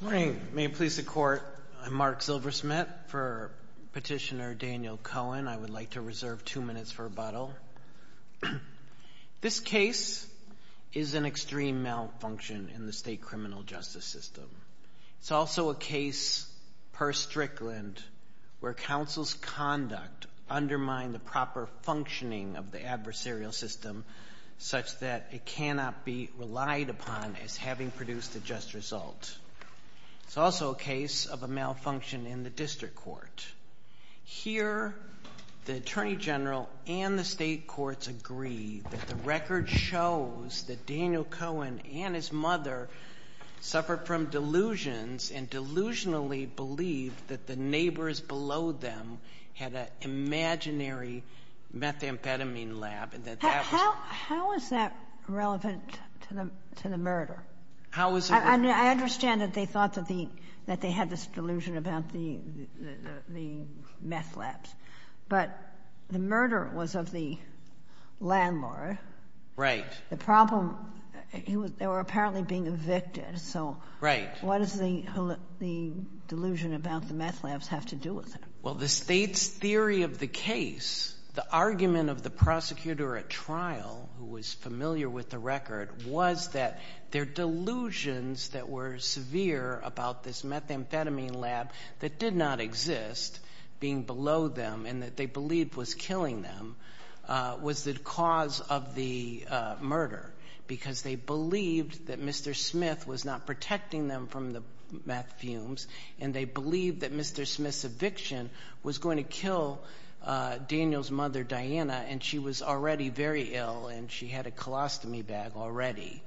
Good morning. May it please the Court, I'm Mark Zilversmith. For Petitioner Daniel Cohen, I would like to reserve two minutes for rebuttal. This case is an extreme malfunction in the state criminal justice system. It's also a case per Strickland where counsel's conduct undermined the proper functioning of the adversarial system such that it cannot be relied upon as having produced a just result. It's also a case of a malfunction in the district court. Here, the Attorney General and the state courts agree that the record shows that Daniel Cohen and his mother suffered from delusions and delusionally believed that the neighbors below them had an imaginary methamphetamine lab How is that relevant to the murder? I understand that they thought that they had this delusion about the meth labs. But the murder was of the landlord. The problem, they were apparently being evicted. So what does the delusion about the meth labs have to do with it? Well, the state's theory of the case, the argument of the prosecutor at trial, who was familiar with the record, was that their delusions that were severe about this methamphetamine lab that did not exist, being below them and that they believed was killing them, was the cause of the murder. Because they believed that Mr. Smith was not protecting them from the meth fumes and they believed that Mr. Smith's eviction was going to kill Daniel's mother, Diana, and she was already very ill and she had a colostomy bag already.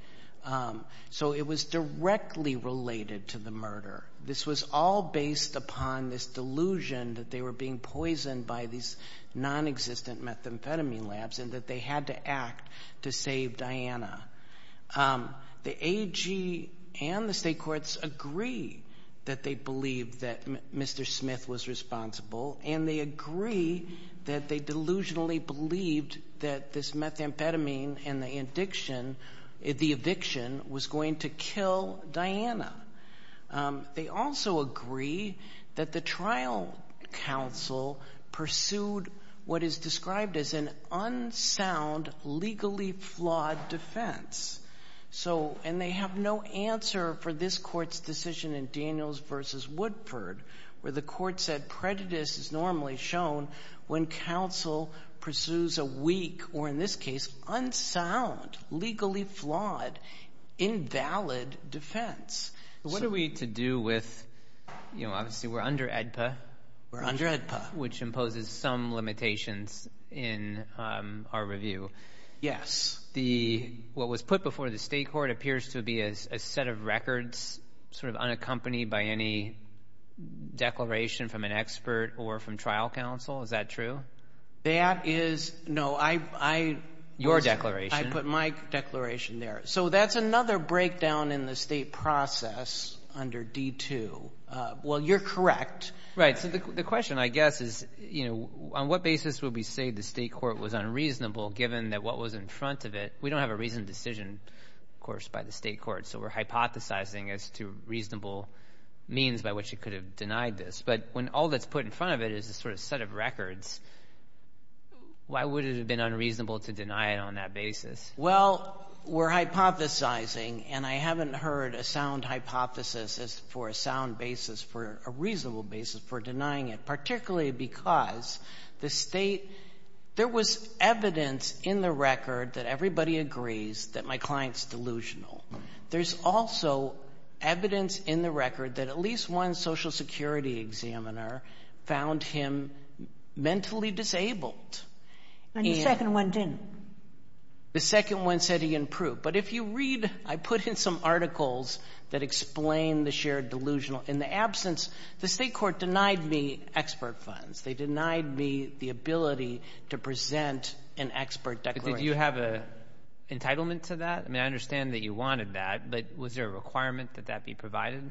So it was directly related to the murder. This was all based upon this delusion that they were being poisoned by these non-existent methamphetamine labs and that they had to act to save Diana. The AG and the state courts agree that they believe that Mr. Smith was responsible and they agree that they delusionally believed that this methamphetamine and the addiction, the eviction, was going to kill Diana. They also agree that the trial counsel pursued what is described as an unsound, legally flawed defense. And they have no answer for this court's decision in Daniels v. Woodford, where the court said prejudice is normally shown when counsel pursues a weak, or in this case, unsound, legally flawed, invalid defense. What are we to do with, you know, obviously we're under AEDPA. We're under AEDPA. Which imposes some limitations in our review. Yes. What was put before the state court appears to be a set of records sort of unaccompanied by any declaration from an expert or from trial counsel. Is that true? That is, no, I put my declaration there. So that's another breakdown in the state process under D-2. Well, you're correct. Right. So the question, I guess, is, you know, on what basis would we say the state court was unreasonable given that what was in front of it, we don't have a reasoned decision, of course, by the state court, so we're hypothesizing as to reasonable means by which it could have denied this. But when all that's put in front of it is a sort of set of records, why would it have been unreasonable to deny it on that basis? Well, we're hypothesizing, and I haven't heard a sound hypothesis for a sound basis, for a reasonable basis for denying it. Particularly because the state, there was evidence in the record that everybody agrees that my client's delusional. There's also evidence in the record that at least one Social Security examiner found him mentally disabled. And the second one didn't. The second one said he improved. But if you read, I put in some articles that explain the shared delusional. In the absence, the state court denied me expert funds. They denied me the ability to present an expert declaration. But did you have an entitlement to that? I mean, I understand that you wanted that, but was there a requirement that that be provided?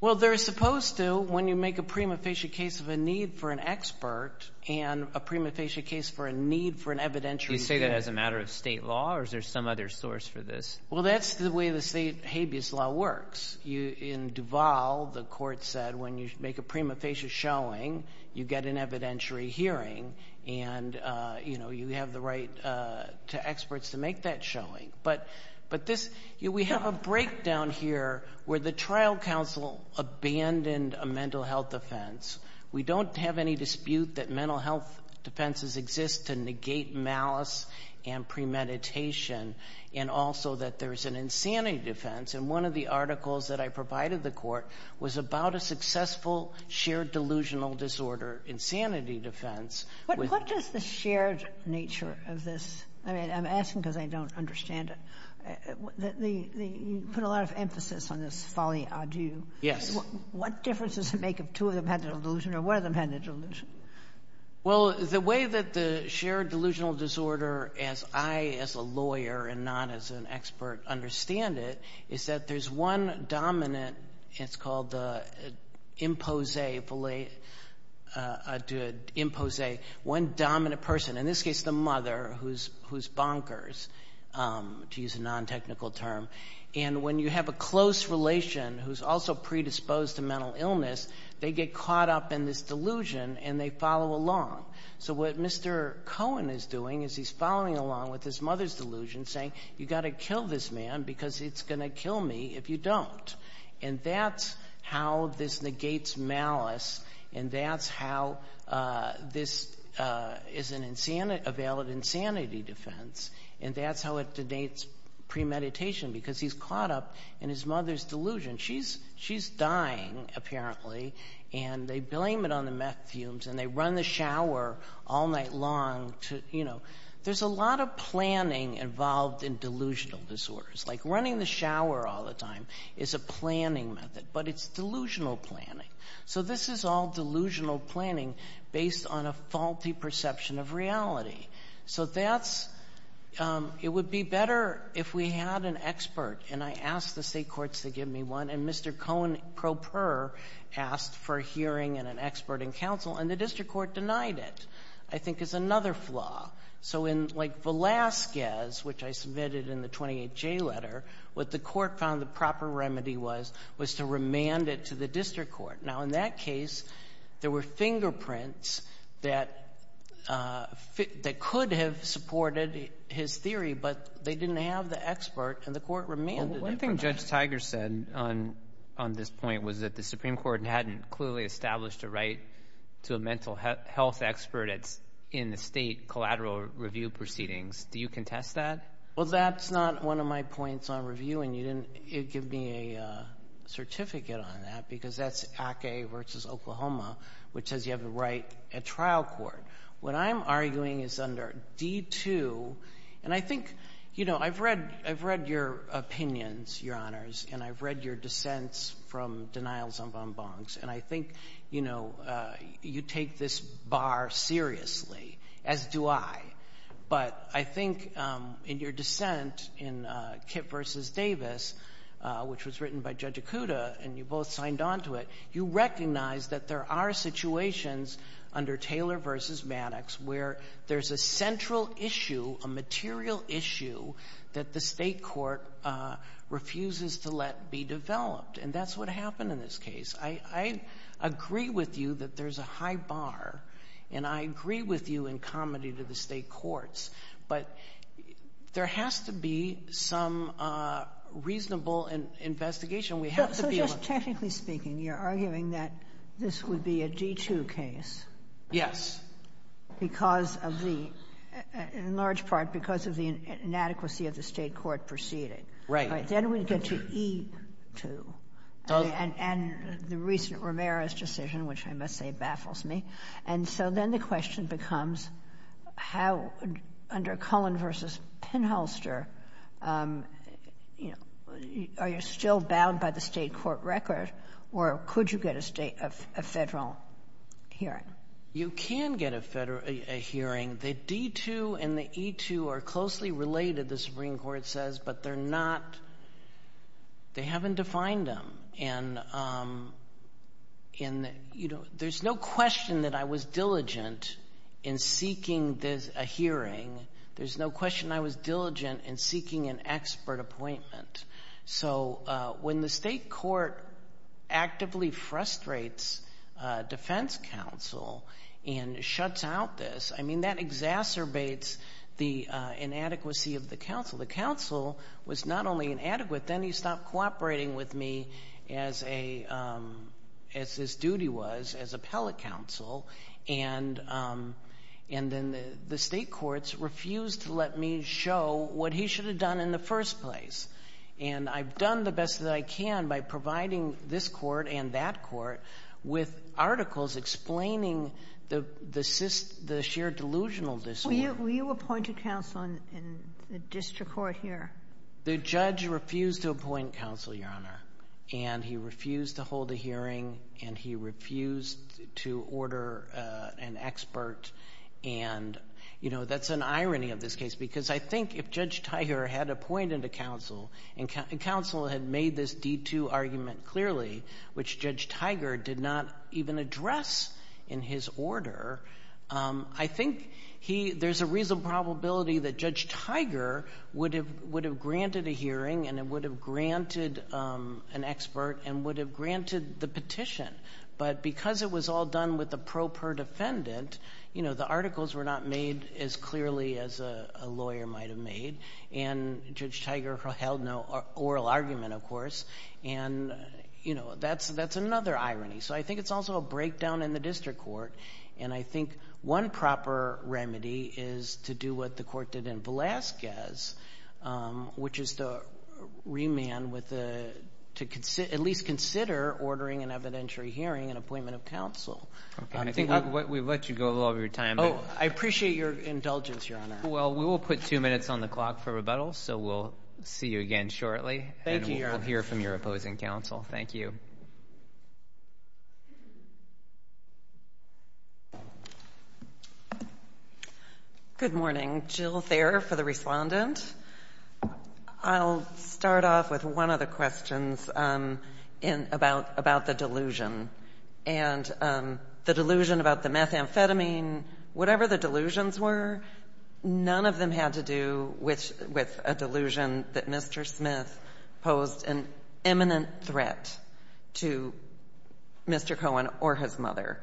Well, they're supposed to when you make a prima facie case of a need for an expert and a prima facie case for a need for an evidentiary hearing. You say that as a matter of state law, or is there some other source for this? Well, that's the way the state habeas law works. In Duval, the court said when you make a prima facie showing, you get an evidentiary hearing, and you have the right to experts to make that showing. But this, we have a breakdown here where the trial counsel abandoned a mental health offense. We don't have any dispute that mental health defenses exist to negate malice and premeditation, and also that there's an insanity defense. And one of the articles that I provided the court was about a successful shared delusional disorder, insanity defense. What does the shared nature of this? I mean, I'm asking because I don't understand it. You put a lot of emphasis on this folly adieu. Yes. What difference does it make if two of them had the delusion or one of them had the delusion? Well, the way that the shared delusional disorder, as I as a lawyer and not as an expert understand it, is that there's one dominant, it's called the impose, one dominant person, in this case the mother who's bonkers, to use a non-technical term, and when you have a close relation who's also predisposed to mental illness, they get caught up in this delusion and they follow along. So what Mr. Cohen is doing is he's following along with his mother's delusion, saying you've got to kill this man because it's going to kill me if you don't. And that's how this negates malice, and that's how this is a valid insanity defense, and that's how it denates premeditation, because he's caught up in his mother's delusion. She's dying, apparently, and they blame it on the meth fumes and they run the shower all night long. There's a lot of planning involved in delusional disorders. Like running the shower all the time is a planning method, but it's delusional planning. So this is all delusional planning based on a faulty perception of reality. So it would be better if we had an expert, and I asked the state courts to give me one, and Mr. Cohen, pro per, asked for a hearing and an expert in counsel, and the district court denied it, I think is another flaw. So in, like, Velazquez, which I submitted in the 28J letter, what the court found the proper remedy was was to remand it to the district court. Now, in that case, there were fingerprints that could have supported his theory, but they didn't have the expert, and the court remanded it. One thing Judge Tiger said on this point was that the Supreme Court hadn't clearly established a right to a mental health expert in the state collateral review proceedings. Do you contest that? Well, that's not one of my points on review, and you didn't give me a certificate on that because that's ACA v. Oklahoma, which says you have the right at trial court. What I'm arguing is under D-2, and I think, you know, I've read your opinions, Your Honors, and I've read your dissents from denials on bonbons, and I think, you know, you take this bar seriously, as do I. But I think in your dissent in Kip v. Davis, which was written by Judge Ikuda, and you both signed on to it, you recognize that there are situations under Taylor v. Maddox where there's a central issue, a material issue, that the state court refuses to let be developed, and that's what happened in this case. I agree with you that there's a high bar, and I agree with you in comedy to the state courts, but there has to be some reasonable investigation. So just technically speaking, you're arguing that this would be a D-2 case. Yes. Because of the, in large part, because of the inadequacy of the state court proceeding. Right. Then we get to E-2 and the recent Ramirez decision, which I must say baffles me. And so then the question becomes how, under Cullen v. Pinholster, are you still bound by the state court record, or could you get a federal hearing? You can get a hearing. The D-2 and the E-2 are closely related, the Supreme Court says, but they're not, they haven't defined them. And, you know, there's no question that I was diligent in seeking a hearing. There's no question I was diligent in seeking an expert appointment. So when the state court actively frustrates defense counsel and shuts out this, I mean that exacerbates the inadequacy of the counsel. The counsel was not only inadequate, then he stopped cooperating with me as his duty was as appellate counsel, and then the state courts refused to let me show what he should have done in the first place. And I've done the best that I can by providing this court and that court with articles explaining the sheer delusional disorder. Were you appointed counsel in the district court here? The judge refused to appoint counsel, Your Honor. And he refused to hold a hearing, and he refused to order an expert. And, you know, that's an irony of this case because I think if Judge Tiger had appointed a counsel and counsel had made this D-2 argument clearly, which Judge Tiger did not even address in his order, I think there's a reasonable probability that Judge Tiger would have granted a hearing and would have granted an expert and would have granted the petition. But because it was all done with the pro per defendant, you know, the articles were not made as clearly as a lawyer might have made. And Judge Tiger held no oral argument, of course. And, you know, that's another irony. So I think it's also a breakdown in the district court, and I think one proper remedy is to do what the court did in Velazquez, which is to remand with a to at least consider ordering an evidentiary hearing and appointment of counsel. Okay, and I think we've let you go all of your time. Oh, I appreciate your indulgence, Your Honor. Well, we will put two minutes on the clock for rebuttal, so we'll see you again shortly. Thank you, Your Honor. We'll hear from your opposing counsel. Thank you. Good morning. Jill Thayer for the respondent. I'll start off with one of the questions about the delusion. And the delusion about the methamphetamine, whatever the delusions were, none of them had to do with a delusion that Mr. Smith posed an imminent threat to Mr. Cohen or his mother.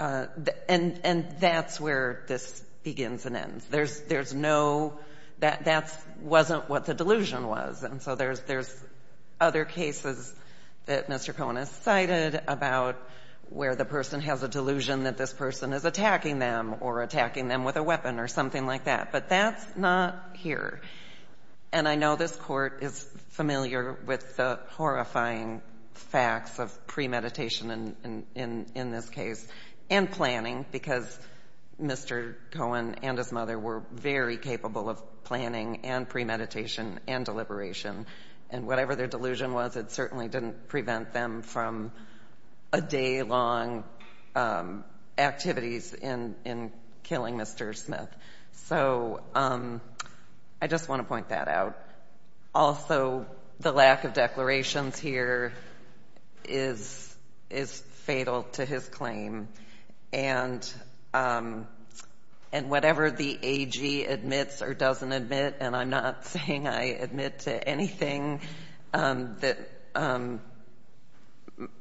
And that's where this begins and ends. There's no that wasn't what the delusion was. And so there's other cases that Mr. Cohen has cited about where the person has a delusion that this person is attacking them or attacking them with a weapon or something like that. But that's not here. And I know this Court is familiar with the horrifying facts of premeditation in this case and planning because Mr. Cohen and his mother were very capable of planning and premeditation and deliberation. And whatever their delusion was, it certainly didn't prevent them from a day-long activities in killing Mr. Smith. So I just want to point that out. Also, the lack of declarations here is fatal to his claim. And whatever the AG admits or doesn't admit, and I'm not saying I admit to anything that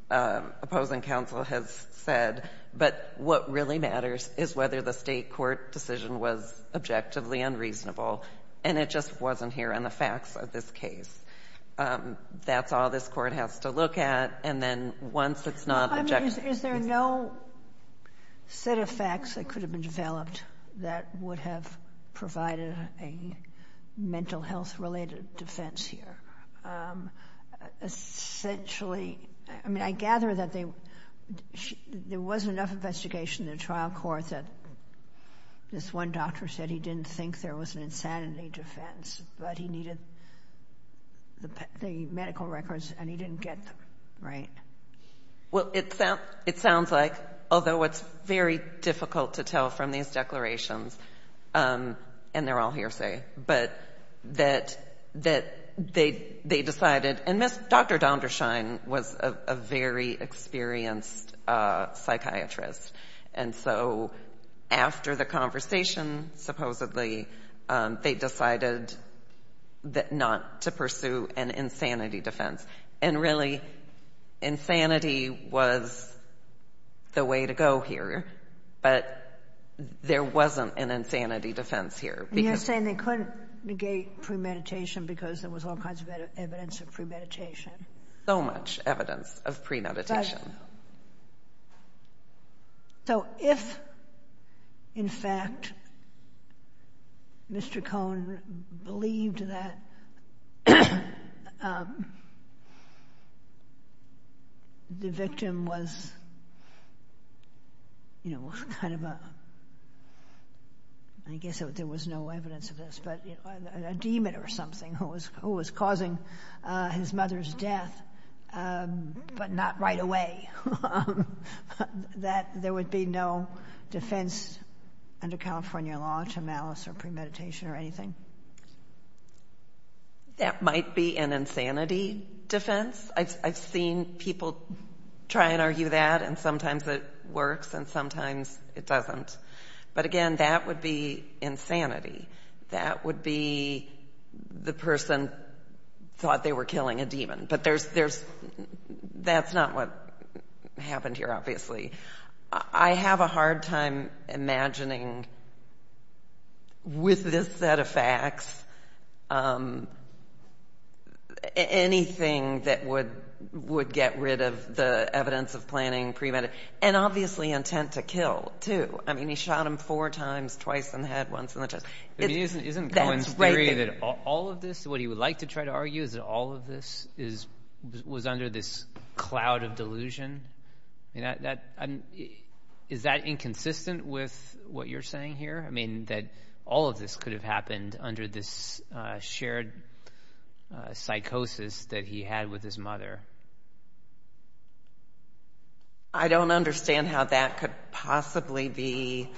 opposing counsel has said, but what really matters is whether the State court decision was objectively unreasonable. And it just wasn't here in the facts of this case. That's all this Court has to look at. Is there no set of facts that could have been developed that would have provided a mental health-related defense here? Essentially, I mean, I gather that there wasn't enough investigation in the trial court that this one doctor said he didn't think there was an insanity defense, but he needed the medical records and he didn't get them, right? Well, it sounds like, although it's very difficult to tell from these declarations, and they're all hearsay, but that they decided, and Dr. Dondershine was a very experienced psychiatrist. And so after the conversation, supposedly, they decided not to pursue an insanity defense. And really, insanity was the way to go here, but there wasn't an insanity defense here. You're saying they couldn't negate premeditation because there was all kinds of evidence of premeditation. So much evidence of premeditation. Absolutely. So if, in fact, Mr. Cohn believed that the victim was kind of a—I guess there was no evidence of this— a demon or something who was causing his mother's death, but not right away, that there would be no defense under California law to malice or premeditation or anything? That might be an insanity defense. I've seen people try and argue that, and sometimes it works and sometimes it doesn't. But, again, that would be insanity. That would be the person thought they were killing a demon. But that's not what happened here, obviously. I have a hard time imagining, with this set of facts, anything that would get rid of the evidence of planning premed— and obviously intent to kill, too. I mean, he shot him four times, twice in the head, once in the chest. Isn't Cohn's theory that all of this, what he would like to try to argue, is that all of this was under this cloud of delusion? Is that inconsistent with what you're saying here? I mean, that all of this could have happened under this shared psychosis that he had with his mother. I don't understand how that could possibly be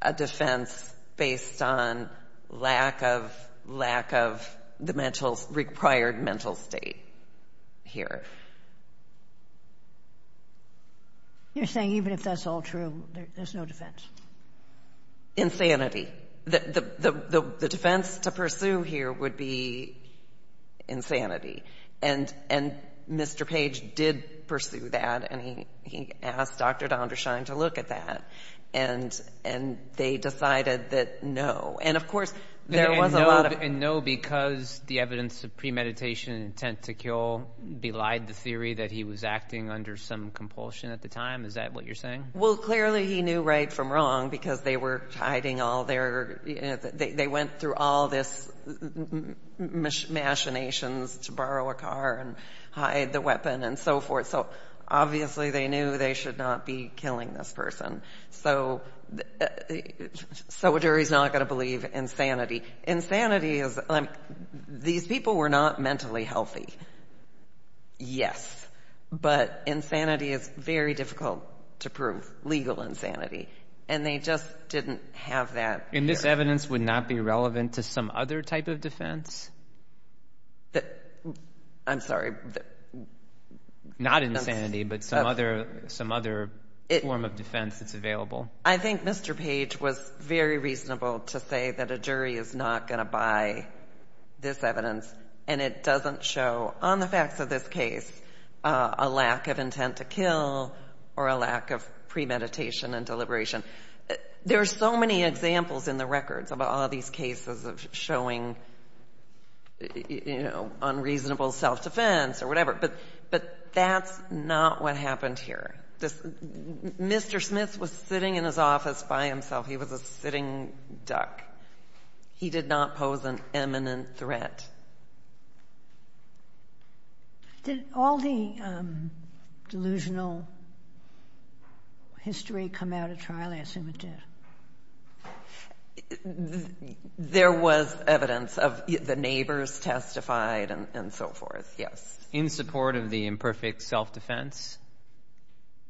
a defense based on lack of the required mental state here. You're saying even if that's all true, there's no defense? Insanity. The defense to pursue here would be insanity. And Mr. Page did pursue that, and he asked Dr. Dondershine to look at that. And they decided that no. And, of course, there was a lot of— And no because the evidence of premeditation and intent to kill belied the theory that he was acting under some compulsion at the time? Is that what you're saying? Well, clearly he knew right from wrong because they were hiding all their—they went through all this machinations to borrow a car and hide the weapon and so forth. So obviously they knew they should not be killing this person. So a jury's not going to believe insanity. Insanity is—these people were not mentally healthy. Yes. But insanity is very difficult to prove, legal insanity. And they just didn't have that— And this evidence would not be relevant to some other type of defense? I'm sorry. Not insanity, but some other form of defense that's available. I think Mr. Page was very reasonable to say that a jury is not going to buy this evidence, and it doesn't show, on the facts of this case, a lack of intent to kill or a lack of premeditation and deliberation. There are so many examples in the records of all these cases of showing, you know, unreasonable self-defense or whatever. But that's not what happened here. Mr. Smith was sitting in his office by himself. He was a sitting duck. He did not pose an imminent threat. Did all the delusional history come out at trial? I assume it did. There was evidence of—the neighbors testified and so forth, yes. In support of the imperfect self-defense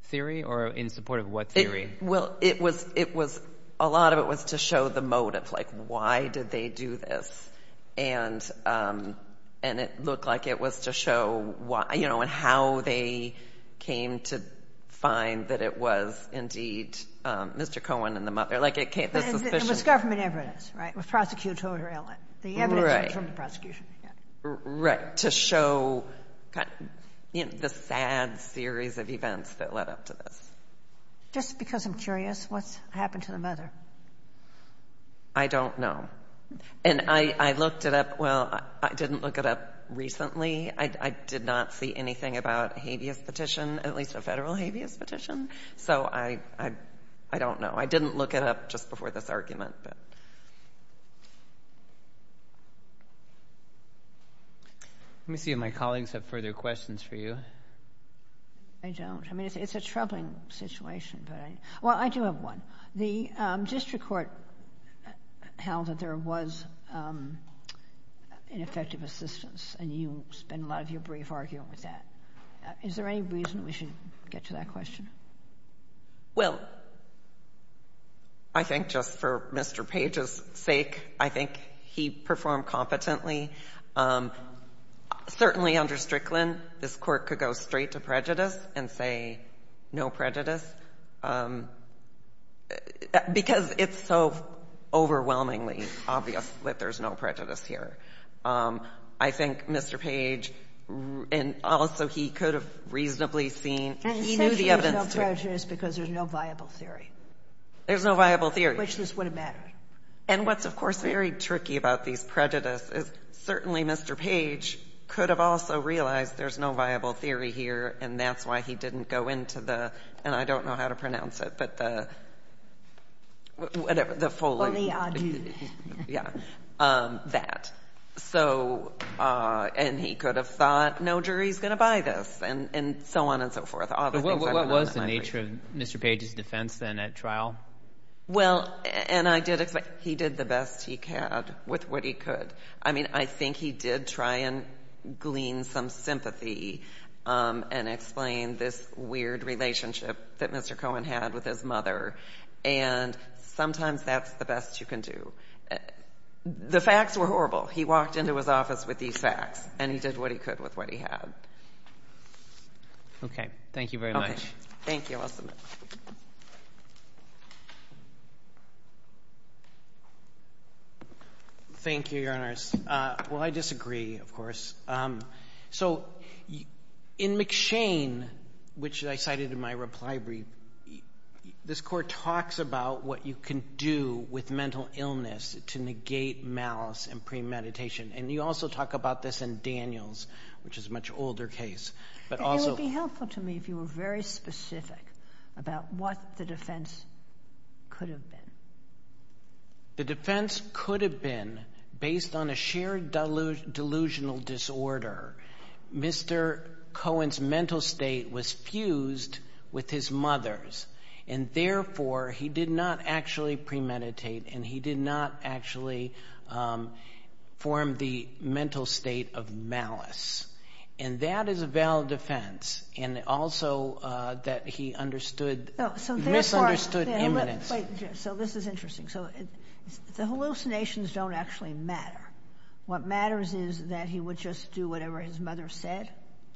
theory, or in support of what theory? Well, it was—it was—a lot of it was to show the motive. Like, why did they do this? And it looked like it was to show, you know, how they came to find that it was, indeed, Mr. Cohen and the mother. Like, it came— But it was government evidence, right? It was prosecutorial evidence. The evidence came from the prosecution. Right. To show the sad series of events that led up to this. Just because I'm curious, what's happened to the mother? I don't know. And I looked it up—well, I didn't look it up recently. I did not see anything about a habeas petition, at least a federal habeas petition. So I don't know. I didn't look it up just before this argument, but— Let me see if my colleagues have further questions for you. I don't. I mean, it's a troubling situation, but I—well, I do have one. The district court held that there was ineffective assistance, and you spend a lot of your brief arguing with that. Is there any reason we should get to that question? Well, I think just for Mr. Page's sake, I think he performed competently. Certainly under Strickland, this Court could go straight to prejudice and say no prejudice, because it's so overwhelmingly obvious that there's no prejudice here. I think Mr. Page, and also he could have reasonably seen— And essentially there's no prejudice because there's no viable theory. There's no viable theory. Which this would have mattered. And what's, of course, very tricky about these prejudices, certainly Mr. Page could have also realized there's no viable theory here, and that's why he didn't go into the—and I don't know how to pronounce it, but the— Whatever, the Foley. Yeah, that. So, and he could have thought, no jury's going to buy this, and so on and so forth. What was the nature of Mr. Page's defense then at trial? Well, and I did expect—he did the best he could with what he could. I mean, I think he did try and glean some sympathy and explain this weird relationship that Mr. Cohen had with his mother, and sometimes that's the best you can do. The facts were horrible. He walked into his office with these facts, and he did what he could with what he had. Okay. Thank you very much. Okay. Thank you. I'll submit. Thank you, Your Honors. Well, I disagree, of course. So, in McShane, which I cited in my reply brief, this court talks about what you can do with mental illness to negate malice and premeditation, and you also talk about this in Daniels, which is a much older case, but also— It would be helpful to me if you were very specific about what the defense could have been. The defense could have been, based on a shared delusional disorder, Mr. Cohen's mental state was fused with his mother's, and therefore he did not actually premeditate, and he did not actually form the mental state of malice. And that is a valid defense, and also that he understood— No. So therefore— —misunderstood imminence. Wait. So this is interesting. So the hallucinations don't actually matter. What matters is that he would just do whatever his mother said?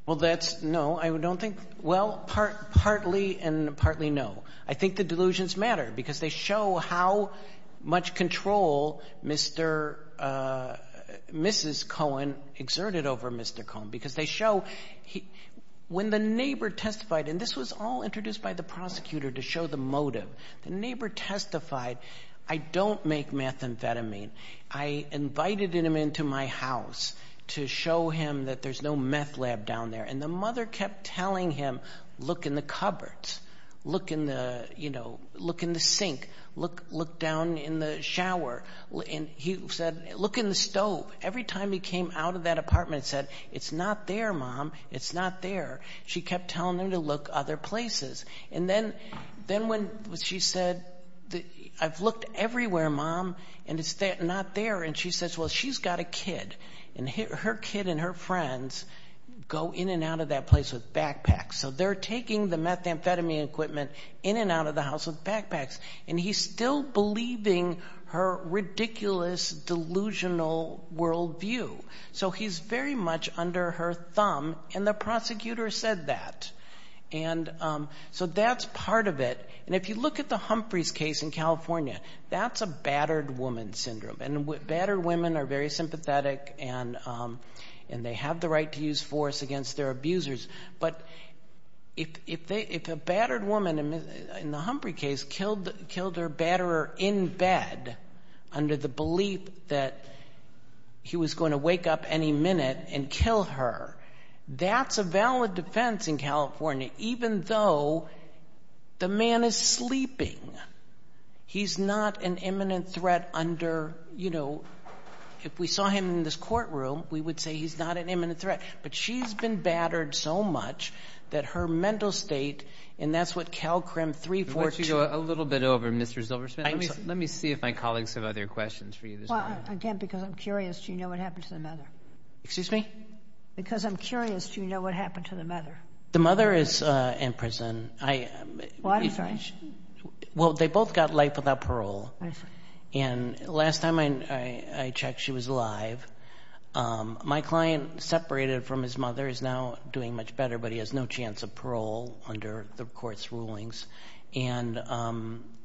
Well, that's no. I don't think — well, partly and partly no. I think the delusions matter, because they show how much control Mr. — Mrs. Cohen exerted over Mr. Cohen, because they show when the neighbor testified, and this was all introduced by the prosecutor to show the motive. The neighbor testified, I don't make methamphetamine. I invited him into my house to show him that there's no meth lab down there, and the mother kept telling him, look in the cupboards, look in the sink, look down in the shower. And he said, look in the stove. Every time he came out of that apartment and said, it's not there, Mom, it's not there, she kept telling him to look other places. And then when she said, I've looked everywhere, Mom, and it's not there. And she says, well, she's got a kid, and her kid and her friends go in and out of that place with backpacks. So they're taking the methamphetamine equipment in and out of the house with backpacks. And he's still believing her ridiculous, delusional worldview. So he's very much under her thumb, and the prosecutor said that. And so that's part of it. And if you look at the Humphreys case in California, that's a battered woman syndrome. And battered women are very sympathetic, and they have the right to use force against their abusers. But if a battered woman in the Humphrey case killed her batterer in bed under the belief that he was going to wake up any minute and kill her, that's a valid defense in California, even though the man is sleeping. He's not an imminent threat under, you know, if we saw him in this courtroom, we would say he's not an imminent threat. But she's been battered so much that her mental state, and that's what CalCrim 342. Let's go a little bit over, Mr. Zilbersmith. Let me see if my colleagues have other questions for you this morning. Well, again, because I'm curious, do you know what happened to the mother? Excuse me? Because I'm curious, do you know what happened to the mother? The mother is in prison. Well, I'm sorry. Well, they both got life without parole. And last time I checked, she was alive. My client, separated from his mother, is now doing much better, but he has no chance of parole under the court's rulings. And,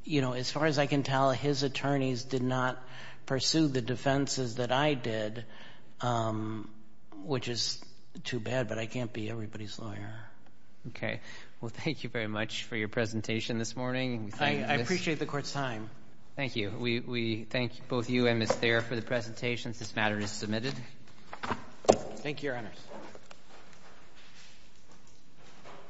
you know, as far as I can tell, his attorneys did not pursue the defenses that I did, which is too bad, but I can't be everybody's lawyer. Okay. Well, thank you very much for your presentation this morning. I appreciate the court's time. Thank you. We thank both you and Ms. Thayer for the presentations. This matter is submitted. Thank you, Your Honors.